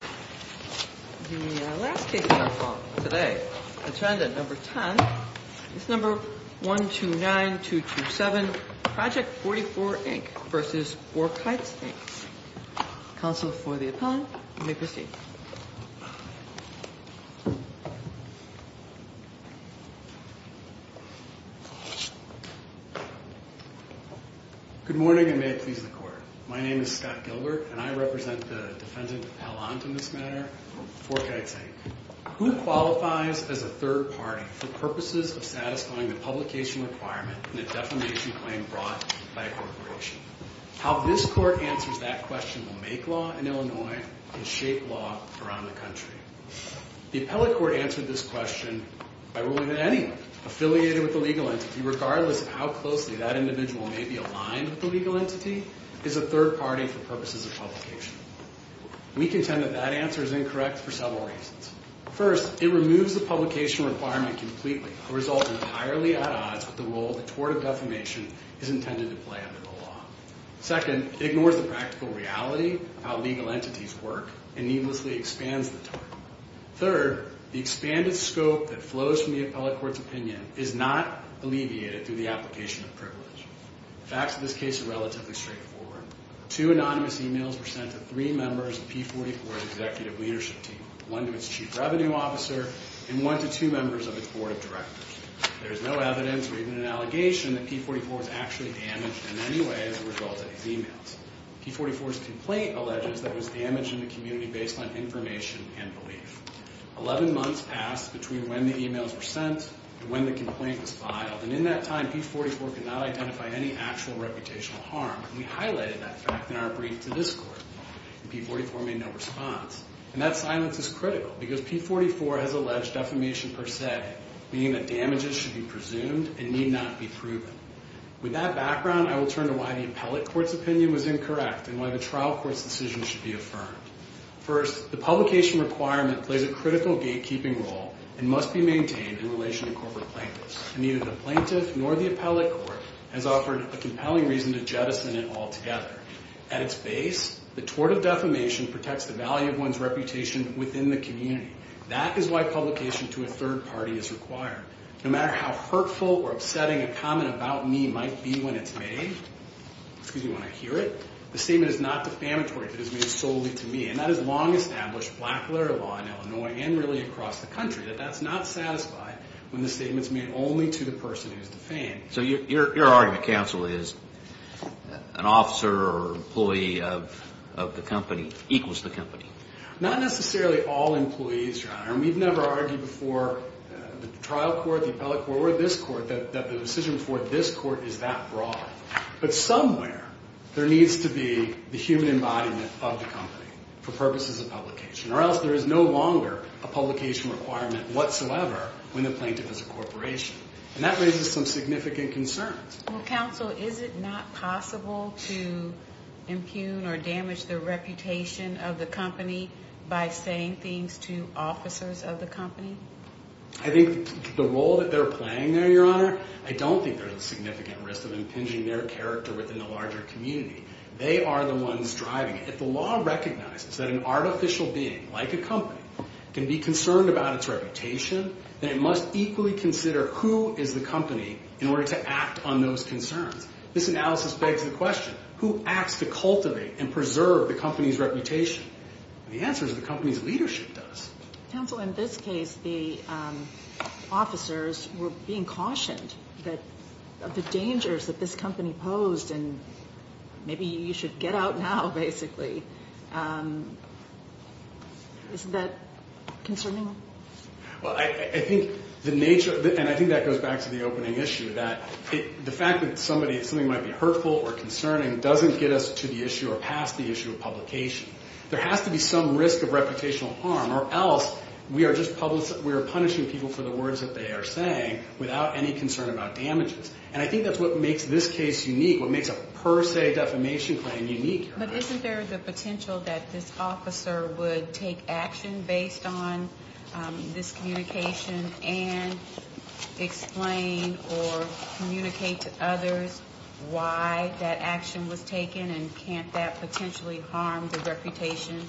The last case we have for today, Attendant Number 10, is Number 129227, Project44, Inc. v. FourKites, Inc. Counsel for the appellant, may proceed. My name is Scott Gilbert, and I represent the defendant appellant in this matter, FourKites, Inc. Who qualifies as a third party for purposes of satisfying the publication requirement in a defamation claim brought by a corporation? How this court answers that question will make law in Illinois and shape law around the country. The appellate court answered this question by ruling that anyone affiliated with the legal entity, regardless of how closely that individual may be aligned with the legal entity, is a third party for purposes of publication. We contend that that answer is incorrect for several reasons. First, it removes the publication requirement completely and results entirely at odds with the role the tort of defamation is intended to play under the law. Second, it ignores the practical reality of how legal entities work and needlessly expands the tort. Third, the expanded scope that flows from the appellate court's opinion is not alleviated through the application of privilege. The facts of this case are relatively straightforward. Two anonymous emails were sent to three members of P-44's executive leadership team, one to its chief revenue officer and one to two members of its board of directors. There is no evidence or even an allegation that P-44 was actually damaged in any way as a result of these emails. P-44's complaint alleges that it was damaged in the community based on information and belief. Eleven months passed between when the emails were sent and when the complaint was filed, and in that time P-44 could not identify any actual reputational harm. We highlighted that fact in our brief to this court, and P-44 made no response. And that silence is critical because P-44 has alleged defamation per se, meaning that damages should be presumed and need not be proven. With that background, I will turn to why the appellate court's opinion was incorrect and why the trial court's decision should be affirmed. First, the publication requirement plays a critical gatekeeping role and must be maintained in relation to corporate plaintiffs. And neither the plaintiff nor the appellate court has offered a compelling reason to jettison it altogether. At its base, the tort of defamation protects the value of one's reputation within the community. That is why publication to a third party is required. No matter how hurtful or upsetting a comment about me might be when it's made, excuse me, when I hear it, the statement is not defamatory if it is made solely to me. And that has long established black letter law in Illinois and really across the country, that that's not satisfied when the statement's made only to the person who's defamed. So your argument, counsel, is an officer or employee of the company equals the company? Not necessarily all employees, Your Honor. And we've never argued before that the trial court, the appellate court, or this court, that the decision before this court is that broad. But somewhere there needs to be the human embodiment of the company for purposes of publication or else there is no longer a publication requirement whatsoever when the plaintiff is a corporation. And that raises some significant concerns. Well, counsel, is it not possible to impugn or damage the reputation of the company by saying things to officers of the company? I think the role that they're playing there, Your Honor, I don't think there's a significant risk of impinging their character within the larger community. They are the ones driving it. If the law recognizes that an artificial being like a company can be concerned about its reputation, then it must equally consider who is the company in order to act on those concerns. This analysis begs the question, who acts to cultivate and preserve the company's reputation? The answer is the company's leadership does. Counsel, in this case, the officers were being cautioned of the dangers that this company posed and maybe you should get out now, basically. Isn't that concerning? Well, I think the nature, and I think that goes back to the opening issue, that the fact that something might be hurtful or concerning doesn't get us to the issue or past the issue of publication. There has to be some risk of reputational harm or else we are punishing people for the words that they are saying without any concern about damages. And I think that's what makes this case unique, what makes a per se defamation claim unique. But isn't there the potential that this officer would take action based on this communication and explain or communicate to others why that action was taken and can't that potentially harm the reputation?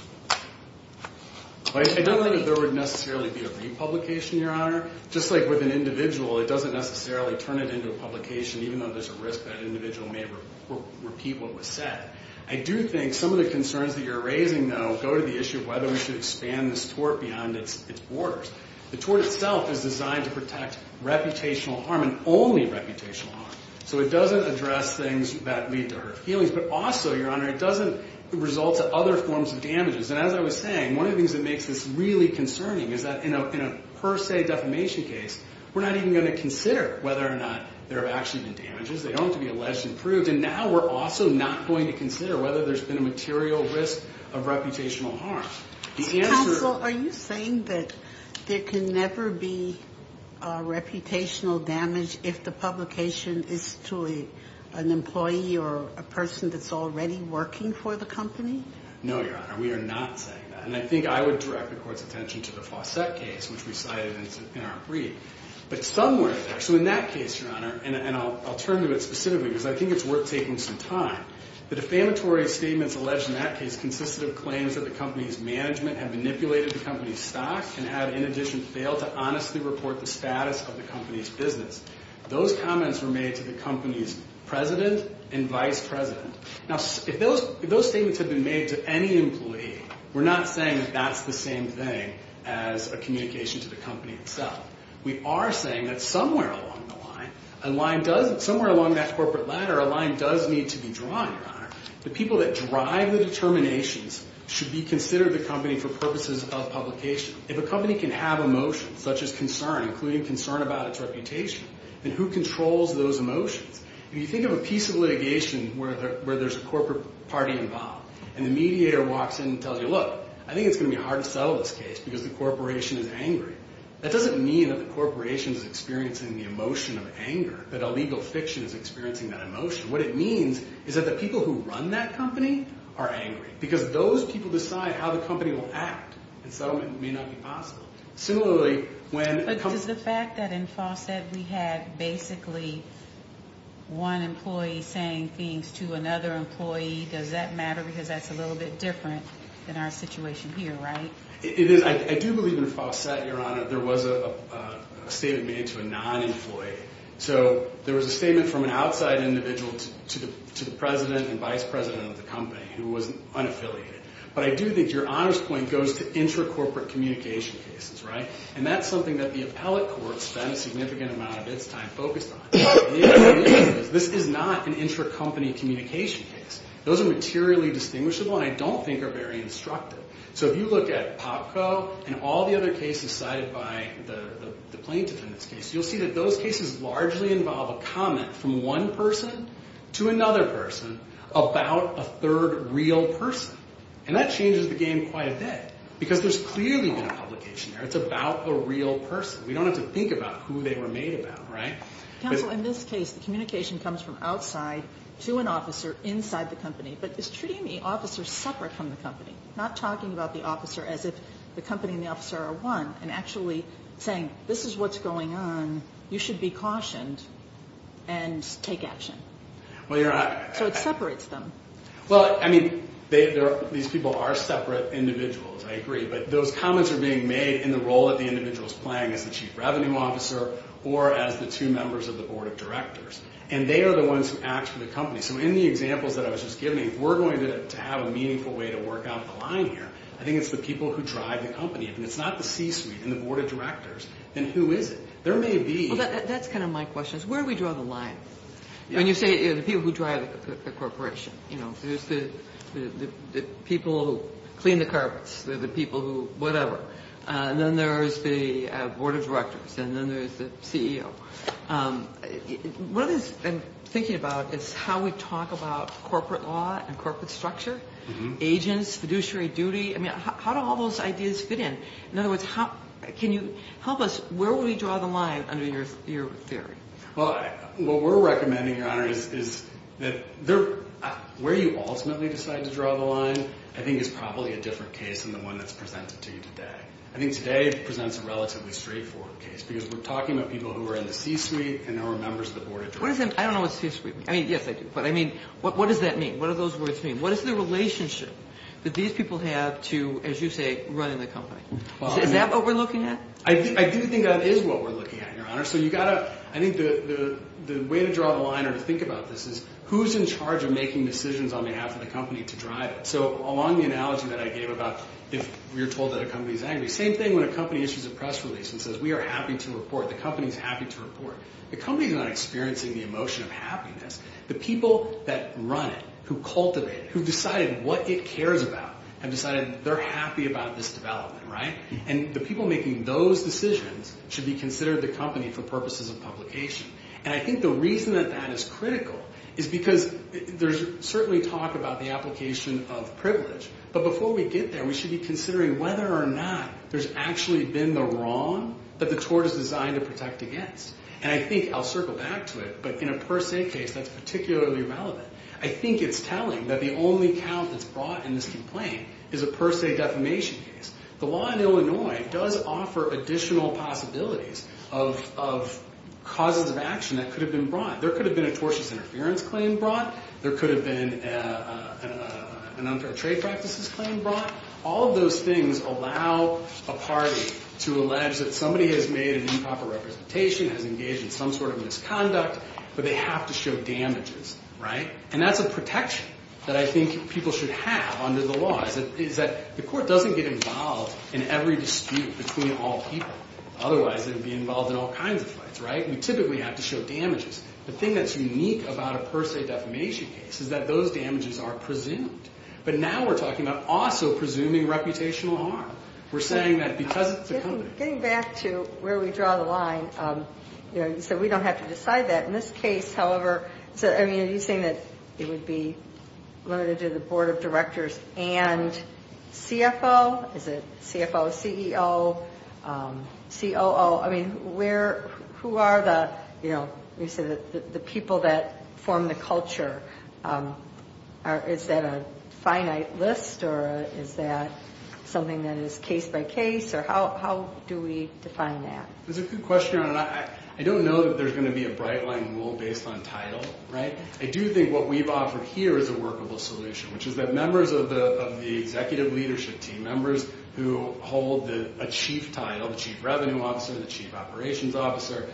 I don't think that there would necessarily be a republication, Your Honor. Just like with an individual, it doesn't necessarily turn it into a publication even though there's a risk that an individual may repeat what was said. I do think some of the concerns that you're raising, though, go to the issue of whether we should expand this tort beyond its borders. The tort itself is designed to protect reputational harm and only reputational harm. So it doesn't address things that lead to hurtful feelings, but also, Your Honor, it doesn't result in other forms of damages. And as I was saying, one of the things that makes this really concerning is that in a per se defamation case, we're not even going to consider whether or not there have actually been damages. They don't have to be alleged and proved. And now we're also not going to consider whether there's been a material risk of reputational harm. Counsel, are you saying that there can never be reputational damage if the publication is to an employee or a person that's already working for the company? No, Your Honor. We are not saying that. And I think I would direct the Court's attention to the Fawcett case, which we cited in our brief. But somewhere there, so in that case, Your Honor, and I'll turn to it specifically because I think it's worth taking some time, the defamatory statements alleged in that case consisted of claims that the company's management had manipulated the company's stock and had, in addition, failed to honestly report the status of the company's business. Those comments were made to the company's president and vice president. Now, if those statements had been made to any employee, we're not saying that that's the same thing as a communication to the company itself. We are saying that somewhere along the line, somewhere along that corporate ladder, a line does need to be drawn, Your Honor. The people that drive the determinations should be considered the company for purposes of publication. If a company can have emotions, such as concern, including concern about its reputation, then who controls those emotions? If you think of a piece of litigation where there's a corporate party involved and the mediator walks in and tells you, look, I think it's going to be hard to settle this case because the corporation is angry, that doesn't mean that the corporation is experiencing the emotion of anger, that a legal fiction is experiencing that emotion. What it means is that the people who run that company are angry because those people decide how the company will act and settlement may not be possible. But is the fact that in Fawcett we had basically one employee saying things to another employee, does that matter because that's a little bit different than our situation here, right? It is. I do believe in Fawcett, Your Honor. There was a statement made to a non-employee. So there was a statement from an outside individual to the president and vice president of the company who was unaffiliated. But I do think Your Honor's point goes to intra-corporate communication cases, right? And that's something that the appellate court spent a significant amount of its time focused on. The issue is this is not an intra-company communication case. Those are materially distinguishable and I don't think are very instructive. So if you look at Popco and all the other cases cited by the plaintiffs in this case, you'll see that those cases largely involve a comment from one person to another person about a third real person. And that changes the game quite a bit because there's clearly been a publication there. It's about a real person. We don't have to think about who they were made about, right? Counsel, in this case the communication comes from outside to an officer inside the company. But is Trudy and me officers separate from the company? Not talking about the officer as if the company and the officer are one and actually saying this is what's going on, you should be cautioned and take action. So it separates them. Well, I mean, these people are separate individuals. I agree. But those comments are being made in the role that the individual is playing as the chief revenue officer or as the two members of the board of directors. And they are the ones who act for the company. So in the examples that I was just giving, if we're going to have a meaningful way to work out the line here, I think it's the people who drive the company. If it's not the C-suite and the board of directors, then who is it? That's kind of my question, is where do we draw the line? When you say the people who drive the corporation, there's the people who clean the carpets, the people who whatever. And then there's the board of directors, and then there's the CEO. One of the things I'm thinking about is how we talk about corporate law and corporate structure, agents, fiduciary duty. I mean, how do all those ideas fit in? In other words, can you help us? Where would we draw the line under your theory? Well, what we're recommending, Your Honor, is that where you ultimately decide to draw the line I think is probably a different case than the one that's presented to you today. I think today presents a relatively straightforward case because we're talking about people who are in the C-suite and who are members of the board of directors. I don't know what C-suite means. I mean, yes, I do. But I mean, what does that mean? What do those words mean? What is the relationship that these people have to, as you say, running the company? Is that what we're looking at? I do think that is what we're looking at, Your Honor. So I think the way to draw the line or to think about this is who's in charge of making decisions on behalf of the company to drive it? So along the analogy that I gave about if you're told that a company's angry, same thing when a company issues a press release and says, we are happy to report, the company's happy to report. The company's not experiencing the emotion of happiness. The people that run it, who cultivate it, who've decided what it cares about have decided they're happy about this development, right? And the people making those decisions should be considered the company for purposes of publication. And I think the reason that that is critical is because there's certainly talk about the application of privilege, but before we get there, we should be considering whether or not there's actually been the wrong that the tort is designed to protect against. And I think I'll circle back to it, but in a per se case, that's particularly relevant. I think it's telling that the only count that's brought in this complaint is a per se defamation case. The law in Illinois does offer additional possibilities of causes of action that could have been brought. There could have been a tortious interference claim brought. There could have been an unfair trade practices claim brought. All of those things allow a party to allege that somebody has made an improper representation, has engaged in some sort of misconduct, but they have to show damages, right? And that's a protection that I think people should have under the law is that the court doesn't get involved in every dispute between all people. Otherwise, they'd be involved in all kinds of fights, right? We typically have to show damages. The thing that's unique about a per se defamation case is that those damages are presumed. But now we're talking about also presuming reputational harm. We're saying that because it's a company. Getting back to where we draw the line, you said we don't have to decide that. In this case, however, are you saying that it would be limited to the board of directors and CFO? Is it CFO, CEO, COO? I mean, who are the people that form the culture? Is that a finite list or is that something that is case by case? How do we define that? That's a good question. I don't know that there's going to be a bright line rule based on title, right? I do think what we've offered here is a workable solution, which is that members of the executive leadership team, members who hold a chief title, the chief revenue officer, the chief operations officer,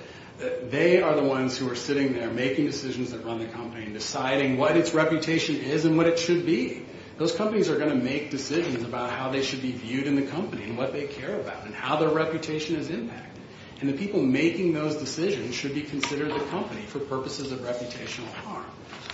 they are the ones who are sitting there making decisions that run the company and deciding what its reputation is and what it should be. Those companies are going to make decisions about how they should be viewed in the company and what they care about and how their reputation is impacted. And the people making those decisions should be considered the company for purposes of reputational harm.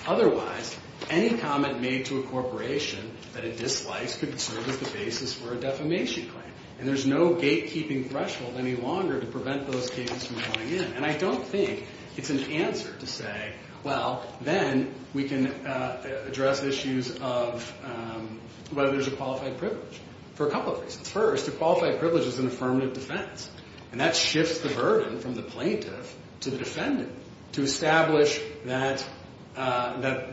Otherwise, any comment made to a corporation that it dislikes could serve as the basis for a defamation claim. And there's no gatekeeping threshold any longer to prevent those cases from going in. And I don't think it's an answer to say, well, then we can address issues of whether there's a qualified privilege, for a couple of reasons. First, a qualified privilege is an affirmative defense, and that shifts the burden from the plaintiff to the defendant to establish that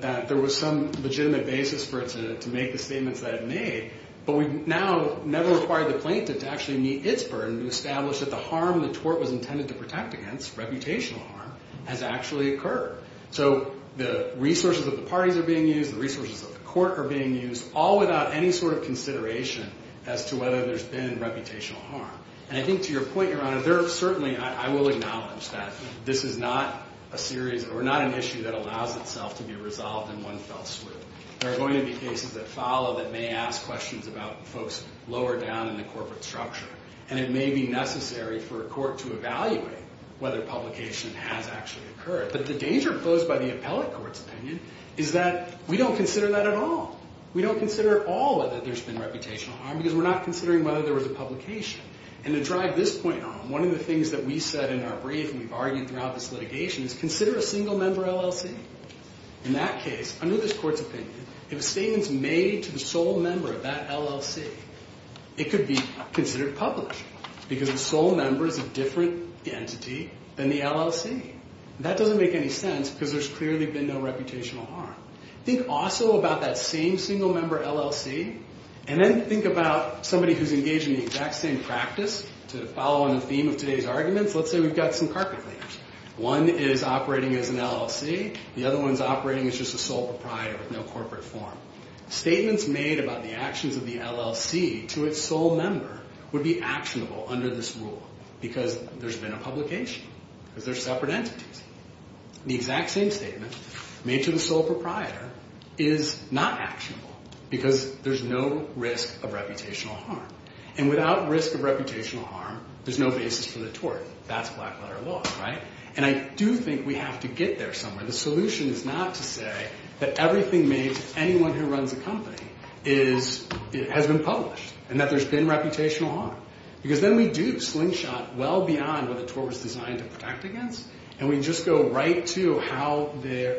there was some legitimate basis for it to make the statements that it made. But we now never require the plaintiff to actually meet its burden to establish that the harm the tort was intended to protect against, reputational harm, has actually occurred. So the resources of the parties are being used, the resources of the court are being used, all without any sort of consideration as to whether there's been reputational harm. And I think to your point, Your Honor, there are certainly, I will acknowledge that this is not a series or not an issue that allows itself to be resolved in one fell swoop. There are going to be cases that follow that may ask questions about folks lower down in the corporate structure. And it may be necessary for a court to evaluate whether publication has actually occurred. But the danger posed by the appellate court's opinion is that we don't consider that at all. We don't consider at all whether there's been reputational harm because we're not considering whether there was a publication. And to drive this point on, one of the things that we said in our brief and we've argued throughout this litigation is consider a single-member LLC. In that case, under this court's opinion, if a statement's made to the sole member of that LLC, it could be considered published because the sole member is a different entity than the LLC. That doesn't make any sense because there's clearly been no reputational harm. Think also about that same single-member LLC and then think about somebody who's engaged in the exact same practice. To follow on the theme of today's arguments, let's say we've got some carpet leaders. One is operating as an LLC. The other one's operating as just a sole proprietor with no corporate form. Statements made about the actions of the LLC to its sole member would be actionable under this rule because there's been a publication, because they're separate entities. The exact same statement made to the sole proprietor is not actionable because there's no risk of reputational harm. And without risk of reputational harm, there's no basis for the tort. That's black-letter law, right? And I do think we have to get there somewhere. The solution is not to say that everything made to anyone who runs a company has been published and that there's been reputational harm because then we do slingshot well beyond what the tort was designed to protect against and we just go right to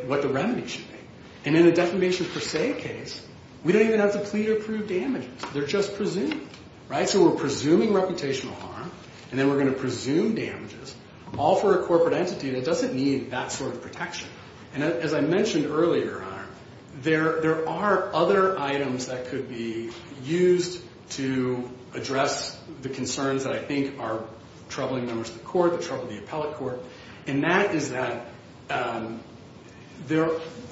what the remedy should be. And in a defamation per se case, we don't even have to plead or prove damages. They're just presumed, right? So we're presuming reputational harm and then we're going to presume damages all for a corporate entity that doesn't need that sort of protection. And as I mentioned earlier, there are other items that could be used to address the concerns that I think are troubling members of the court, that trouble the appellate court, and that is that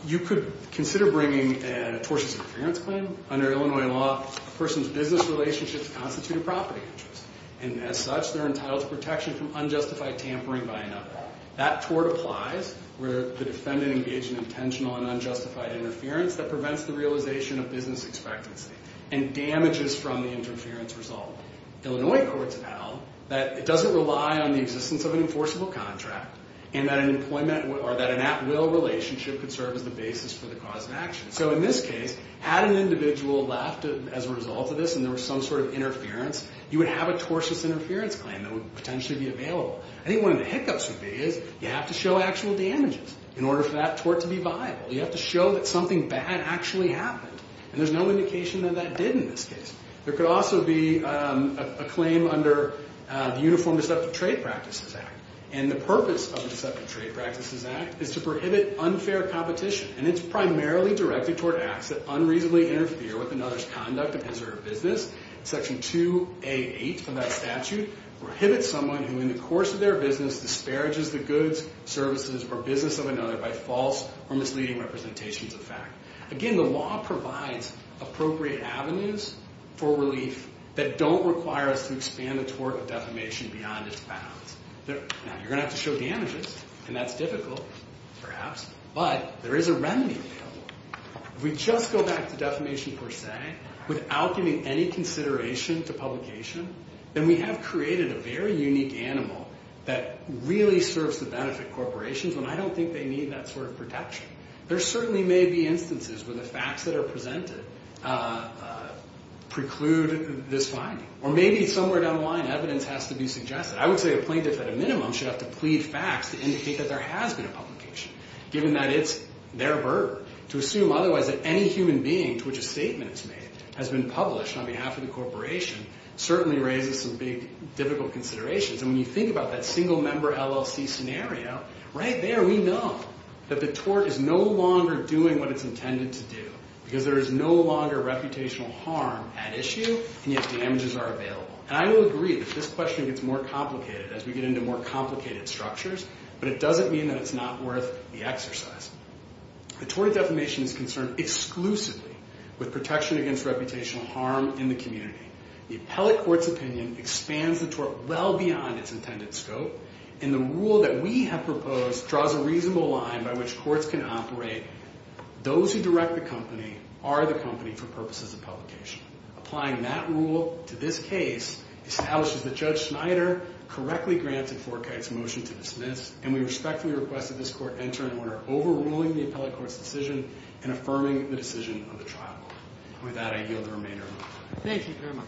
you could consider bringing a tortious interference claim. Under Illinois law, a person's business relationships constitute a property interest. And as such, they're entitled to protection from unjustified tampering by another. That tort applies where the defendant engaged in intentional and unjustified interference that prevents the realization of business expectancy and damages from the interference result. Illinois courts held that it doesn't rely on the existence of an enforceable contract and that an employment or that an at-will relationship could serve as the basis for the cause of action. So in this case, had an individual left as a result of this and there was some sort of interference, you would have a tortious interference claim that would potentially be available. I think one of the hiccups would be is you have to show actual damages in order for that tort to be viable. You have to show that something bad actually happened. And there's no indication that that did in this case. There could also be a claim under the Uniform Deceptive Trade Practices Act. And the purpose of the Deceptive Trade Practices Act is to prohibit unfair competition. And it's primarily directed toward acts that unreasonably interfere with another's conduct and his or her business. Section 2A8 of that statute prohibits someone who in the course of their business disparages the goods, services, or business of another by false or misleading representations of fact. Again, the law provides appropriate avenues for relief that don't require us to expand the tort of defamation beyond its bounds. Now, you're going to have to show damages, and that's difficult, perhaps, but there is a remedy available. If we just go back to defamation per se, without giving any consideration to publication, then we have created a very unique animal that really serves to benefit corporations when I don't think they need that sort of protection. There certainly may be instances where the facts that are presented preclude this finding. Or maybe somewhere down the line, evidence has to be suggested. I would say a plaintiff at a minimum should have to plead facts to indicate that there has been a publication, given that it's their burden. To assume otherwise that any human being to which a statement is made has been published on behalf of the corporation certainly raises some big, difficult considerations. And when you think about that single-member LLC scenario, right there we know that the tort is no longer doing what it's intended to do because there is no longer reputational harm at issue, and yet damages are available. And I will agree that this question gets more complicated as we get into more complicated structures, but it doesn't mean that it's not worth the exercise. The tort of defamation is concerned exclusively with protection against reputational harm in the community. The appellate court's opinion expands the tort well beyond its intended scope, and the rule that we have proposed draws a reasonable line by which courts can operate. Those who direct the company are the company for purposes of publication. Applying that rule to this case establishes that Judge Snyder correctly granted Forkite's motion to dismiss, and we respectfully request that this court enter into order overruling the appellate court's decision and affirming the decision of the trial. With that, I yield the remainder of my time. Thank you very much.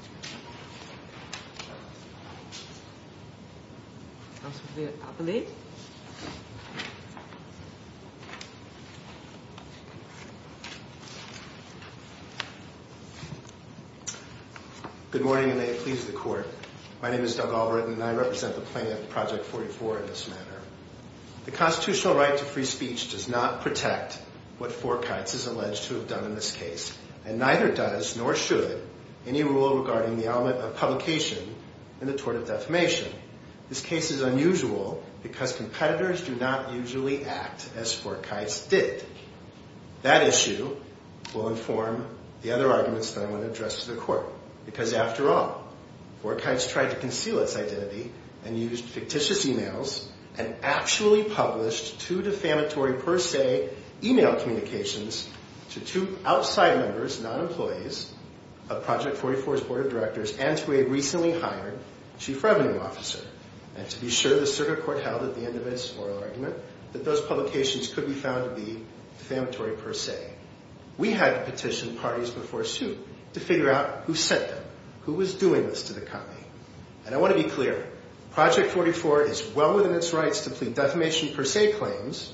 Good morning, and may it please the Court. My name is Doug Alvord, and I represent the plaintiff, Project 44, in this matter. The constitutional right to free speech does not protect what Forkite's is alleged to have done in this case, and neither does, nor should, any rule regarding the element of publication in the tort of defamation. This case is unusual because competitors do not usually act as Forkite's did. That issue will inform the other arguments that I'm going to address to the Court, because after all, Forkite's tried to conceal its identity and used fictitious e-mails and actually published two defamatory per se e-mail communications to two outside members, non-employees of Project 44's board of directors and to a recently hired chief revenue officer. And to be sure, the circuit court held at the end of its oral argument that those publications could be found to be defamatory per se. We had to petition parties before suit to figure out who sent them, who was doing this to the company. And I want to be clear. Project 44 is well within its rights to plead defamation per se claims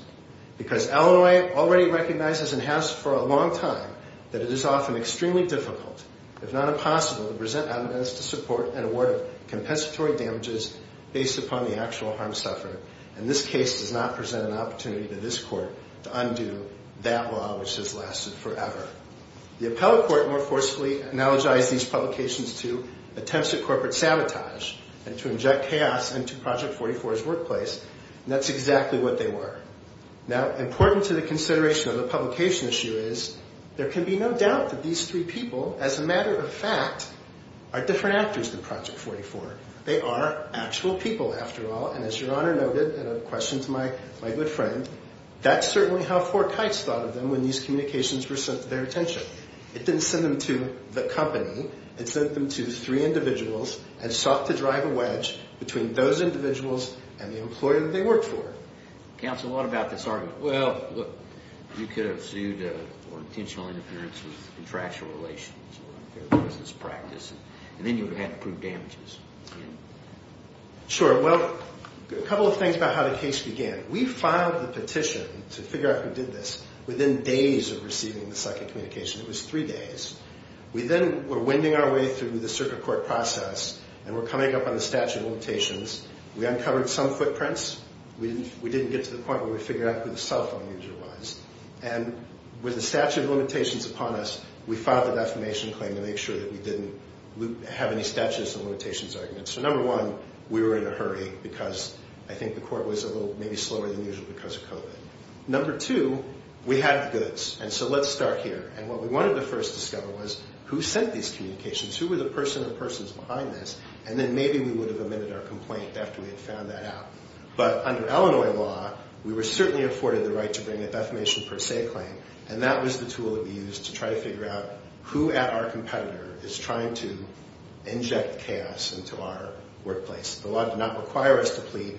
because Illinois already recognizes and has for a long time that it is often extremely difficult, if not impossible, to present evidence to support an award of compensatory damages based upon the actual harm suffered. And this case does not present an opportunity to this Court to undo that law which has lasted forever. The appellate court more forcefully analogized these publications to attempts at corporate sabotage and to inject chaos into Project 44's workplace, and that's exactly what they were. Now, important to the consideration of the publication issue is there can be no doubt that these three people, as a matter of fact, are different actors than Project 44. They are actual people, after all, and as Your Honor noted in a question to my good friend, that's certainly how Fort Kites thought of them when these communications were sent to their attention. It didn't send them to the company. It sent them to three individuals and sought to drive a wedge between those individuals and the employer that they worked for. Counsel, what about this argument? Well, look, you could have sued for intentional interference with contractual relations or business practice, and then you would have had to prove damages. Sure. Well, a couple of things about how the case began. We filed the petition to figure out who did this within days of receiving the second communication. It was three days. We then were winding our way through the circuit court process and were coming up on the statute of limitations. We uncovered some footprints. We didn't get to the point where we figured out who the cell phone user was. And with the statute of limitations upon us, we filed a defamation claim to make sure that we didn't have any statutes of limitations arguments. So number one, we were in a hurry because I think the court was a little maybe slower than usual because of COVID. Number two, we had the goods, and so let's start here. And what we wanted to first discover was who sent these communications? Who were the person or persons behind this? And then maybe we would have admitted our complaint after we had found that out. But under Illinois law, we were certainly afforded the right to bring a defamation per se claim, and that was the tool that we used to try to figure out who at our competitor is trying to inject chaos into our workplace. The law did not require us to plead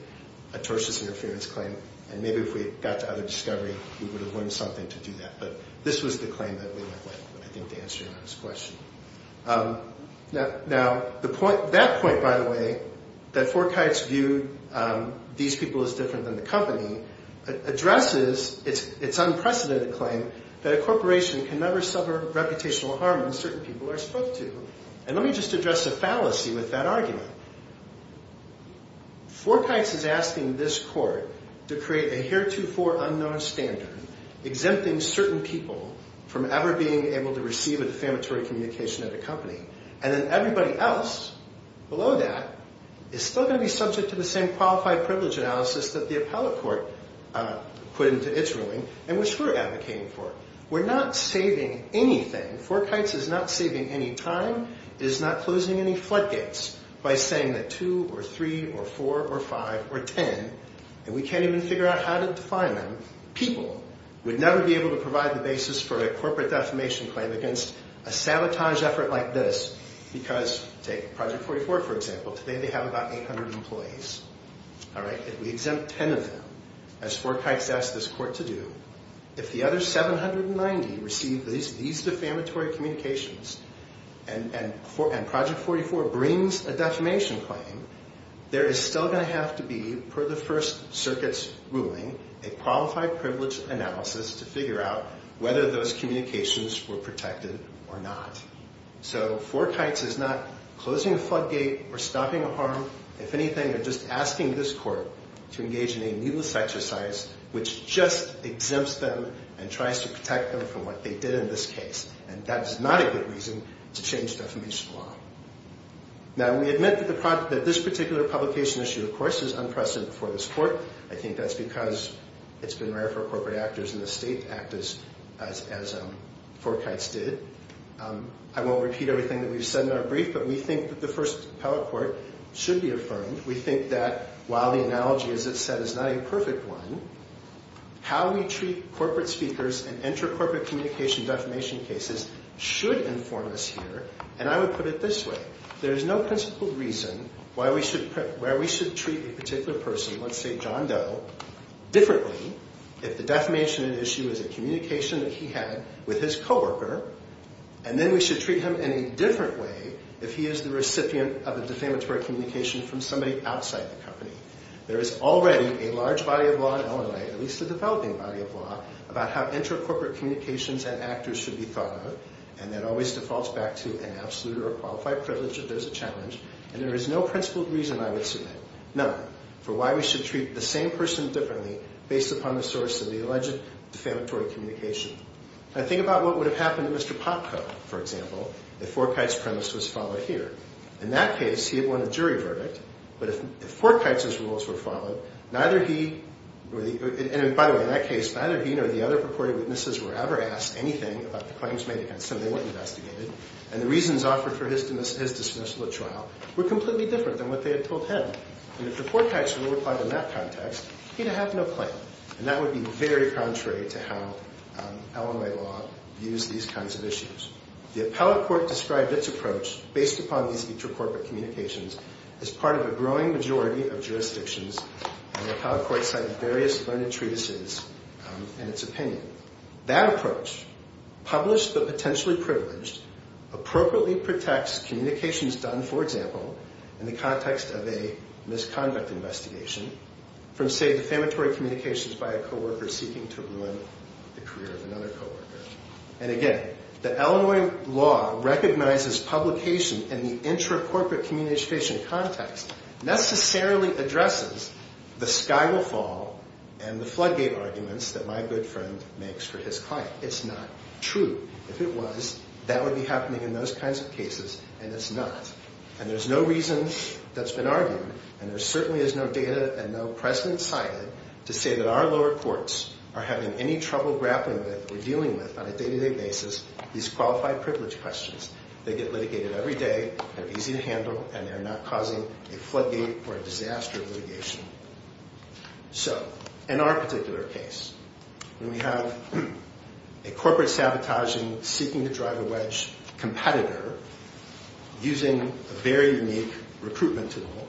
a tortious interference claim, and maybe if we had got to other discovery, we would have learned something to do that. But this was the claim that we went with, I think, to answer your last question. Now, that point, by the way, that Forkites viewed these people as different than the company addresses its unprecedented claim that a corporation can never suffer reputational harm when certain people are spoke to. And let me just address the fallacy with that argument. Forkites is asking this court to create a heretofore unknown standard exempting certain people from ever being able to receive a defamatory communication at a company. And then everybody else below that is still going to be subject to the same qualified privilege analysis that the appellate court put into its ruling and which we're advocating for. We're not saving anything. Forkites is not saving any time. It is not closing any floodgates by saying that 2 or 3 or 4 or 5 or 10, and we can't even figure out how to define them, people would never be able to provide the basis for a corporate defamation claim against a sabotage effort like this because, take Project 44, for example, today they have about 800 employees. All right, if we exempt 10 of them, as Forkites asked this court to do, if the other 790 receive these defamatory communications and Project 44 brings a defamation claim, there is still going to have to be, per the First Circuit's ruling, a qualified privilege analysis to figure out whether those communications were protected or not. So Forkites is not closing a floodgate or stopping a harm. If anything, they're just asking this court to engage in a needless exercise which just exempts them and tries to protect them from what they did in this case. And that is not a good reason to change defamation law. Now, we admit that this particular publication issue, of course, is unprecedented for this court. I think that's because it's been rare for corporate actors in the state to act as Forkites did. I won't repeat everything that we've said in our brief, but we think that the first appellate court should be affirmed. We think that while the analogy, as it's said, is not a perfect one, how we treat corporate speakers and inter-corporate communication defamation cases should inform us here. And I would put it this way. There is no principled reason where we should treat a particular person, let's say John Doe, differently if the defamation at issue is a communication that he had with his co-worker, and then we should treat him in a different way if he is the recipient of a defamatory communication from somebody outside the company. There is already a large body of law in Illinois, at least a developing body of law, about how inter-corporate communications and actors should be thought of, and that always defaults back to an absolute or a qualified privilege if there's a challenge. And there is no principled reason I would submit, none, for why we should treat the same person differently based upon the source of the alleged defamatory communication. Now think about what would have happened to Mr. Popko, for example, if Forkite's premise was followed here. In that case, he had won a jury verdict, but if Forkite's rules were followed, neither he or the other purported witnesses were ever asked anything about the claims made against him. They weren't investigated. And the reasons offered for his dismissal at trial were completely different than what they had told him. And if Forkite's rule applied in that context, he'd have no claim. And that would be very contrary to how Illinois law views these kinds of issues. The appellate court described its approach, based upon these inter-corporate communications, as part of a growing majority of jurisdictions, and the appellate court cited various learned treatises in its opinion. That approach, published but potentially privileged, appropriately protects communications done, for example, in the context of a misconduct investigation from, say, defamatory communications by a co-worker seeking to ruin the career of another co-worker. And again, the Illinois law recognizes publication in the inter-corporate communication context necessarily addresses the sky will fall and the floodgate arguments that my good friend makes for his client. It's not true. If it was, that would be happening in those kinds of cases, and it's not. And there's no reason that's been argued, and there certainly is no data and no precedent cited to say that our lower courts are having any trouble grappling with or dealing with, on a day-to-day basis, these qualified privilege questions. They get litigated every day, they're easy to handle, and they're not causing a floodgate or a disaster of litigation. So, in our particular case, when we have a corporate sabotaging seeking-to-drive-a-wedge competitor using a very unique recruitment tool,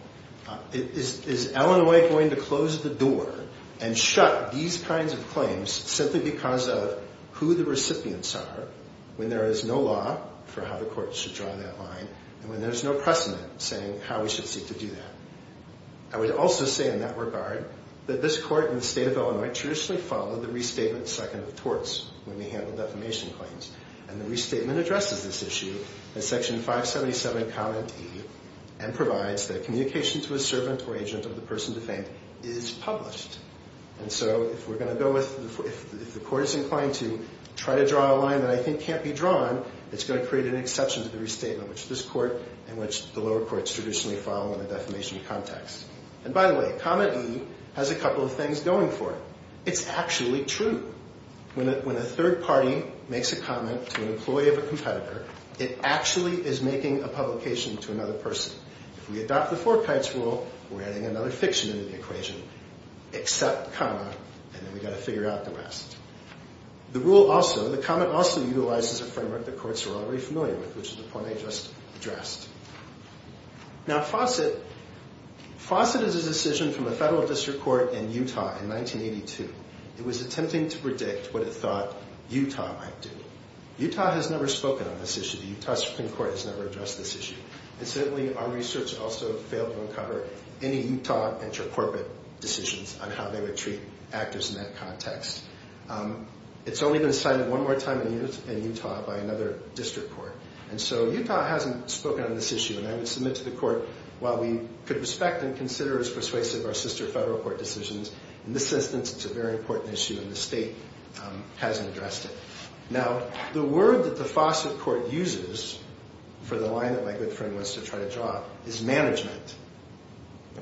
is Illinois going to close the door and shut these kinds of claims simply because of who the recipients are when there is no law for how the courts should draw that line and when there's no precedent saying how we should seek to do that? I would also say, in that regard, that this court in the state of Illinois traditionally followed the restatement second of torts when we handled defamation claims. And the restatement addresses this issue in Section 577, Comment E, and provides that communication to a servant or agent of the person defamed is published. And so, if the court is inclined to try to draw a line that I think can't be drawn, it's going to create an exception to the restatement which this court and which the lower courts traditionally follow in the defamation context. And, by the way, Comment E has a couple of things going for it. It's actually true. When a third party makes a comment to an employee of a competitor, it actually is making a publication to another person. If we adopt the Four Tides rule, we're adding another fiction into the equation. Except, comma, and then we've got to figure out the rest. The rule also, the comment also utilizes a framework the courts are already familiar with, which is the point I just addressed. Now, Fawcett, Fawcett is a decision from a federal district court in Utah in 1982. It was attempting to predict what it thought Utah might do. Utah has never spoken on this issue. The Utah Supreme Court has never addressed this issue. And, certainly, our research also failed to uncover any Utah inter-corporate decisions on how they would treat actors in that context. It's only been cited one more time in Utah by another district court. And so Utah hasn't spoken on this issue. And I would submit to the court, while we could respect and consider as persuasive our sister federal court decisions, in this instance it's a very important issue and the state hasn't addressed it. Now, the word that the Fawcett court uses for the line that my good friend wants to try to draw is management.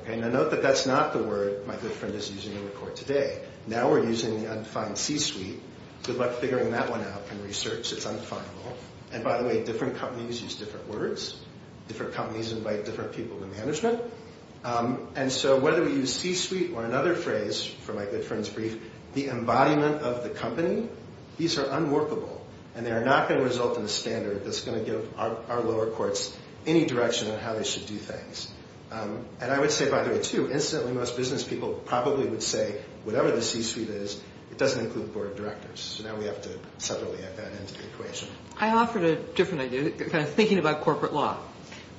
Now, note that that's not the word my good friend is using in the court today. Now we're using the undefined C-suite. Good luck figuring that one out in research. It's undefinable. And, by the way, different companies use different words. Different companies invite different people to management. And so whether we use C-suite or another phrase from my good friend's brief, the embodiment of the company, these are unworkable. And they are not going to result in a standard that's going to give our lower courts any direction on how they should do things. And I would say, by the way, too, incidentally, most business people probably would say whatever the C-suite is, it doesn't include board of directors. So now we have to separately add that into the equation. I offered a different idea, thinking about corporate law.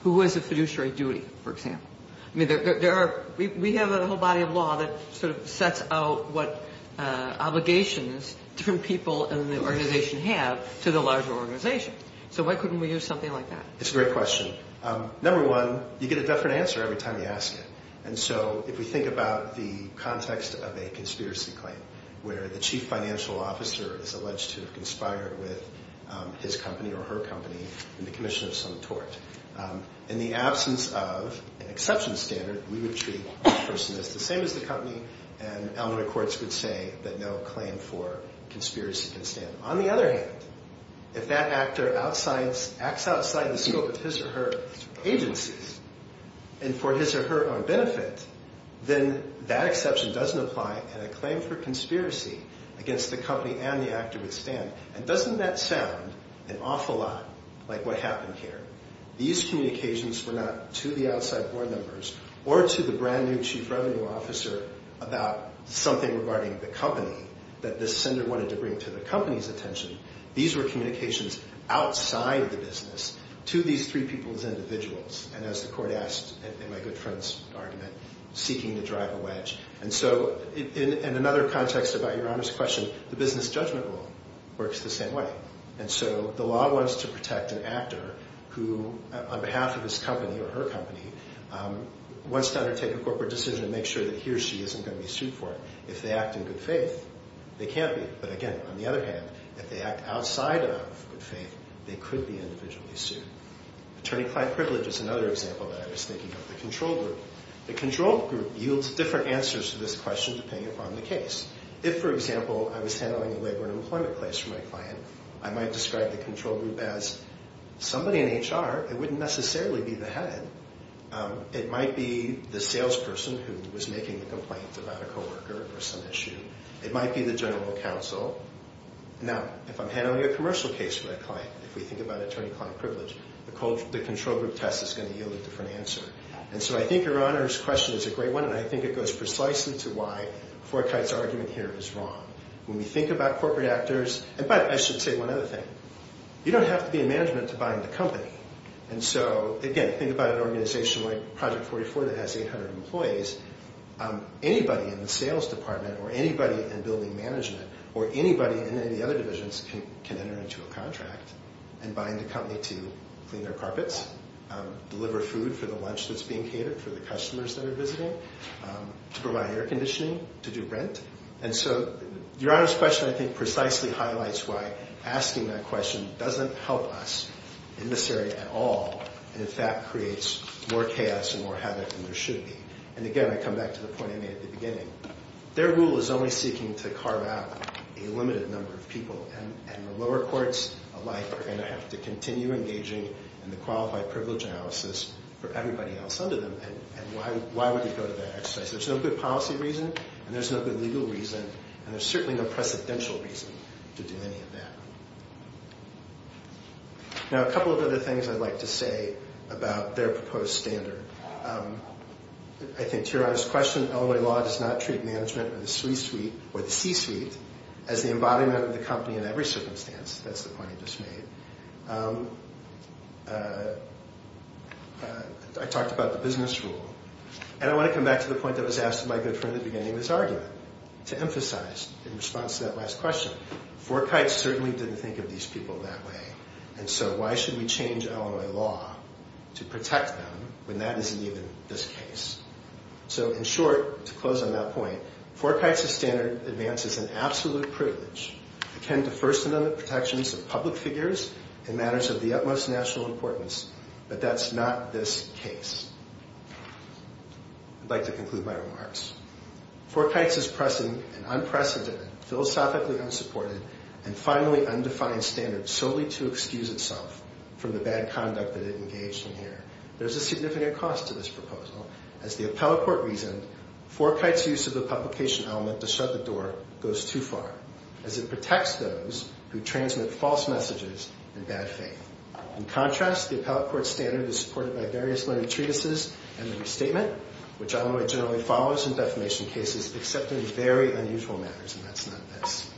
Who has the fiduciary duty, for example? We have a whole body of law that sort of sets out what obligations different people in the organization have to the larger organization. So why couldn't we use something like that? It's a great question. Number one, you get a different answer every time you ask it. And so if we think about the context of a conspiracy claim where the chief financial officer is alleged to have conspired with his company or her company in the commission of some tort, in the absence of an exception standard, we would treat the person as the same as the company and elementary courts would say that no claim for conspiracy can stand. On the other hand, if that actor acts outside the scope of his or her agencies and for his or her own benefit, then that exception doesn't apply and a claim for conspiracy against the company and the actor would stand. And doesn't that sound an awful lot like what happened here? These communications were not to the outside board members or to the brand new chief revenue officer about something regarding the company that this sender wanted to bring to the company's attention. These were communications outside the business to these three people as individuals and as the court asked in my good friend's argument, seeking to drive a wedge. And so in another context about Your Honor's question, the business judgment rule works the same way. And so the law wants to protect an actor who, on behalf of his company or her company, wants to undertake a corporate decision to make sure that he or she isn't going to be sued for it. If they act in good faith, they can't be. But again, on the other hand, if they act outside of good faith, they could be individually sued. Attorney client privilege is another example that I was thinking of the control group. The control group yields different answers to this question depending upon the case. If, for example, I was handling a labor and employment case for my client, I might describe the control group as somebody in HR. It wouldn't necessarily be the head. It might be the salesperson who was making the complaint about a coworker or some issue. It might be the general counsel. Now, if I'm handling a commercial case for my client, if we think about attorney client privilege, the control group test is going to yield a different answer. And so I think Your Honor's question is a great one, and I think it goes precisely to why Forkyte's argument here is wrong. When we think about corporate actors, but I should say one other thing. You don't have to be in management to buy into a company. And so, again, think about an organization like Project 44 that has 800 employees. Anybody in the sales department or anybody in building management or anybody in any other divisions can enter into a contract and buy into a company to clean their carpets, deliver food for the lunch that's being catered for the customers that are visiting, to provide air conditioning, to do rent. And so Your Honor's question, I think, precisely highlights why asking that question doesn't help us in this area at all and, in fact, creates more chaos and more havoc than there should be. And, again, I come back to the point I made at the beginning. Their rule is only seeking to carve out a limited number of people, and the lower courts alike are going to have to continue engaging in the qualified privilege analysis for everybody else under them. And why would they go to that exercise? There's no good policy reason, and there's no good legal reason, and there's certainly no precedential reason to do any of that. Now, a couple of other things I'd like to say about their proposed standard. I think, to Your Honor's question, Illinois law does not treat management or the C-suite as the embodiment of the company in every circumstance. That's the point he just made. I talked about the business rule. And I want to come back to the point that was asked by my good friend at the beginning of this argument to emphasize in response to that last question. Forkite certainly didn't think of these people that way, and so why should we change Illinois law to protect them when that isn't even this case? So, in short, to close on that point, Forkite's standard advances an absolute privilege akin to First Amendment protections of public figures in matters of the utmost national importance, but that's not this case. I'd like to conclude my remarks. Forkite's is pressing an unprecedented, philosophically unsupported, and finally undefined standard solely to excuse itself from the bad conduct that it engaged in here. There's a significant cost to this proposal. As the appellate court reasoned, Forkite's use of the publication element to shut the door goes too far, as it protects those who transmit false messages in bad faith. In contrast, the appellate court standard is supported by various learned treatises and the restatement, which Illinois generally follows in defamation cases, except in very unusual matters, and that's not this.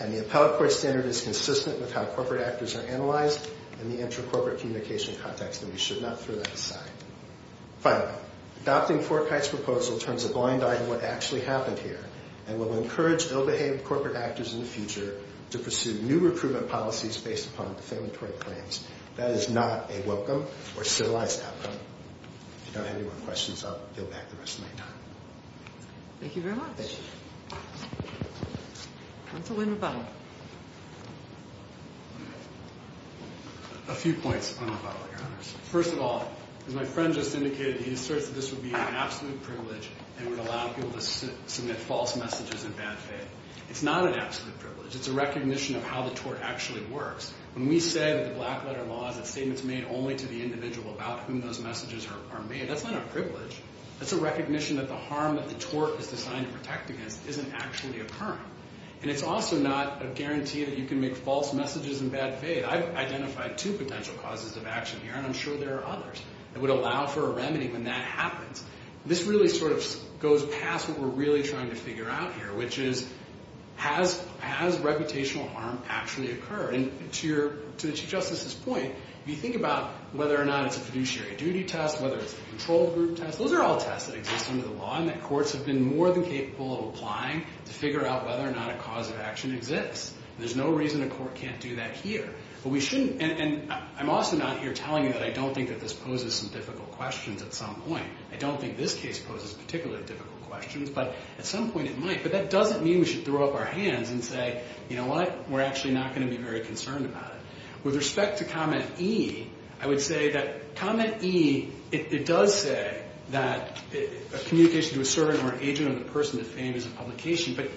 And the appellate court standard is consistent with how corporate actors are analyzed in the inter-corporate communication context, and we should not throw that aside. Finally, adopting Forkite's proposal turns a blind eye to what actually happened here and will encourage ill-behaved corporate actors in the future to pursue new recruitment policies based upon defamatory claims. That is not a welcome or civilized outcome. If you don't have any more questions, I'll deal back the rest of my time. Thank you very much. Thank you. Counsel William Butler. A few points on the following, Your Honors. First of all, as my friend just indicated, he asserts that this would be an absolute privilege and would allow people to submit false messages in bad faith. It's not an absolute privilege. It's a recognition of how the tort actually works. When we say that the Black Letter Law is that statements made only to the individual about whom those messages are made, that's not a privilege. That's a recognition that the harm that the tort is designed to protect against isn't actually occurring. And it's also not a guarantee that you can make false messages in bad faith. I've identified two potential causes of action here, and I'm sure there are others that would allow for a remedy when that happens. This really sort of goes past what we're really trying to figure out here, which is has reputational harm actually occurred? And to the Chief Justice's point, if you think about whether or not it's a fiduciary duty test, whether it's the control group test, those are all tests that exist under the law and that courts have been more than capable of applying to figure out whether or not a cause of action exists. There's no reason a court can't do that here. And I'm also not here telling you that I don't think that this poses some difficult questions at some point. I don't think this case poses particularly difficult questions, but at some point it might. But that doesn't mean we should throw up our hands and say, you know what, we're actually not going to be very concerned about it. With respect to comment E, I would say that comment E, it does say that a communication to a servant or an agent or a person of the fame is a publication, but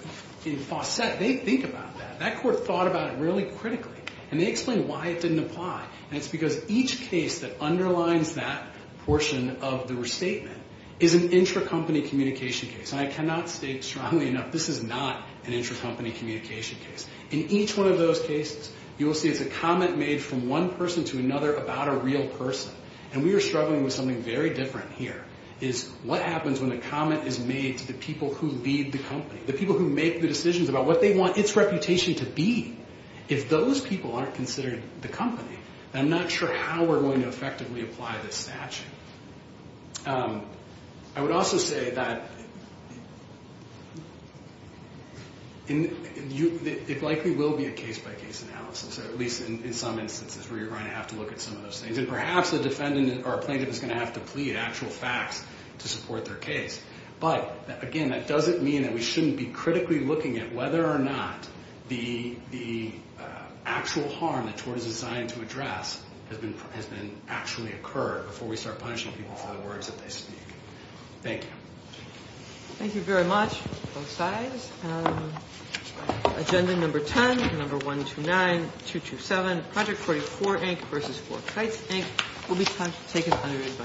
in Fawcett, they think about that. That court thought about it really critically, and they explained why it didn't apply. And it's because each case that underlines that portion of the restatement is an intracompany communication case. And I cannot state strongly enough this is not an intracompany communication case. In each one of those cases, you will see it's a comment made from one person to another about a real person. And we are struggling with something very different here, is what happens when a comment is made to the people who lead the company, the people who make the decisions about what they want its reputation to be. If those people aren't considered the company, I'm not sure how we're going to effectively apply this statute. I would also say that it likely will be a case-by-case analysis, at least in some instances where you're going to have to look at some of those things. And perhaps a defendant or a plaintiff is going to have to plead actual facts to support their case. But, again, that doesn't mean that we shouldn't be critically looking at whether or not the actual harm that tort is designed to address has actually occurred before we start punishing people for the words that they speak. Thank you. Thank you very much, both sides. Agenda number 10, number 129-227, Project 44, Inc. vs. Fort Kites, Inc. will be taken under advisory.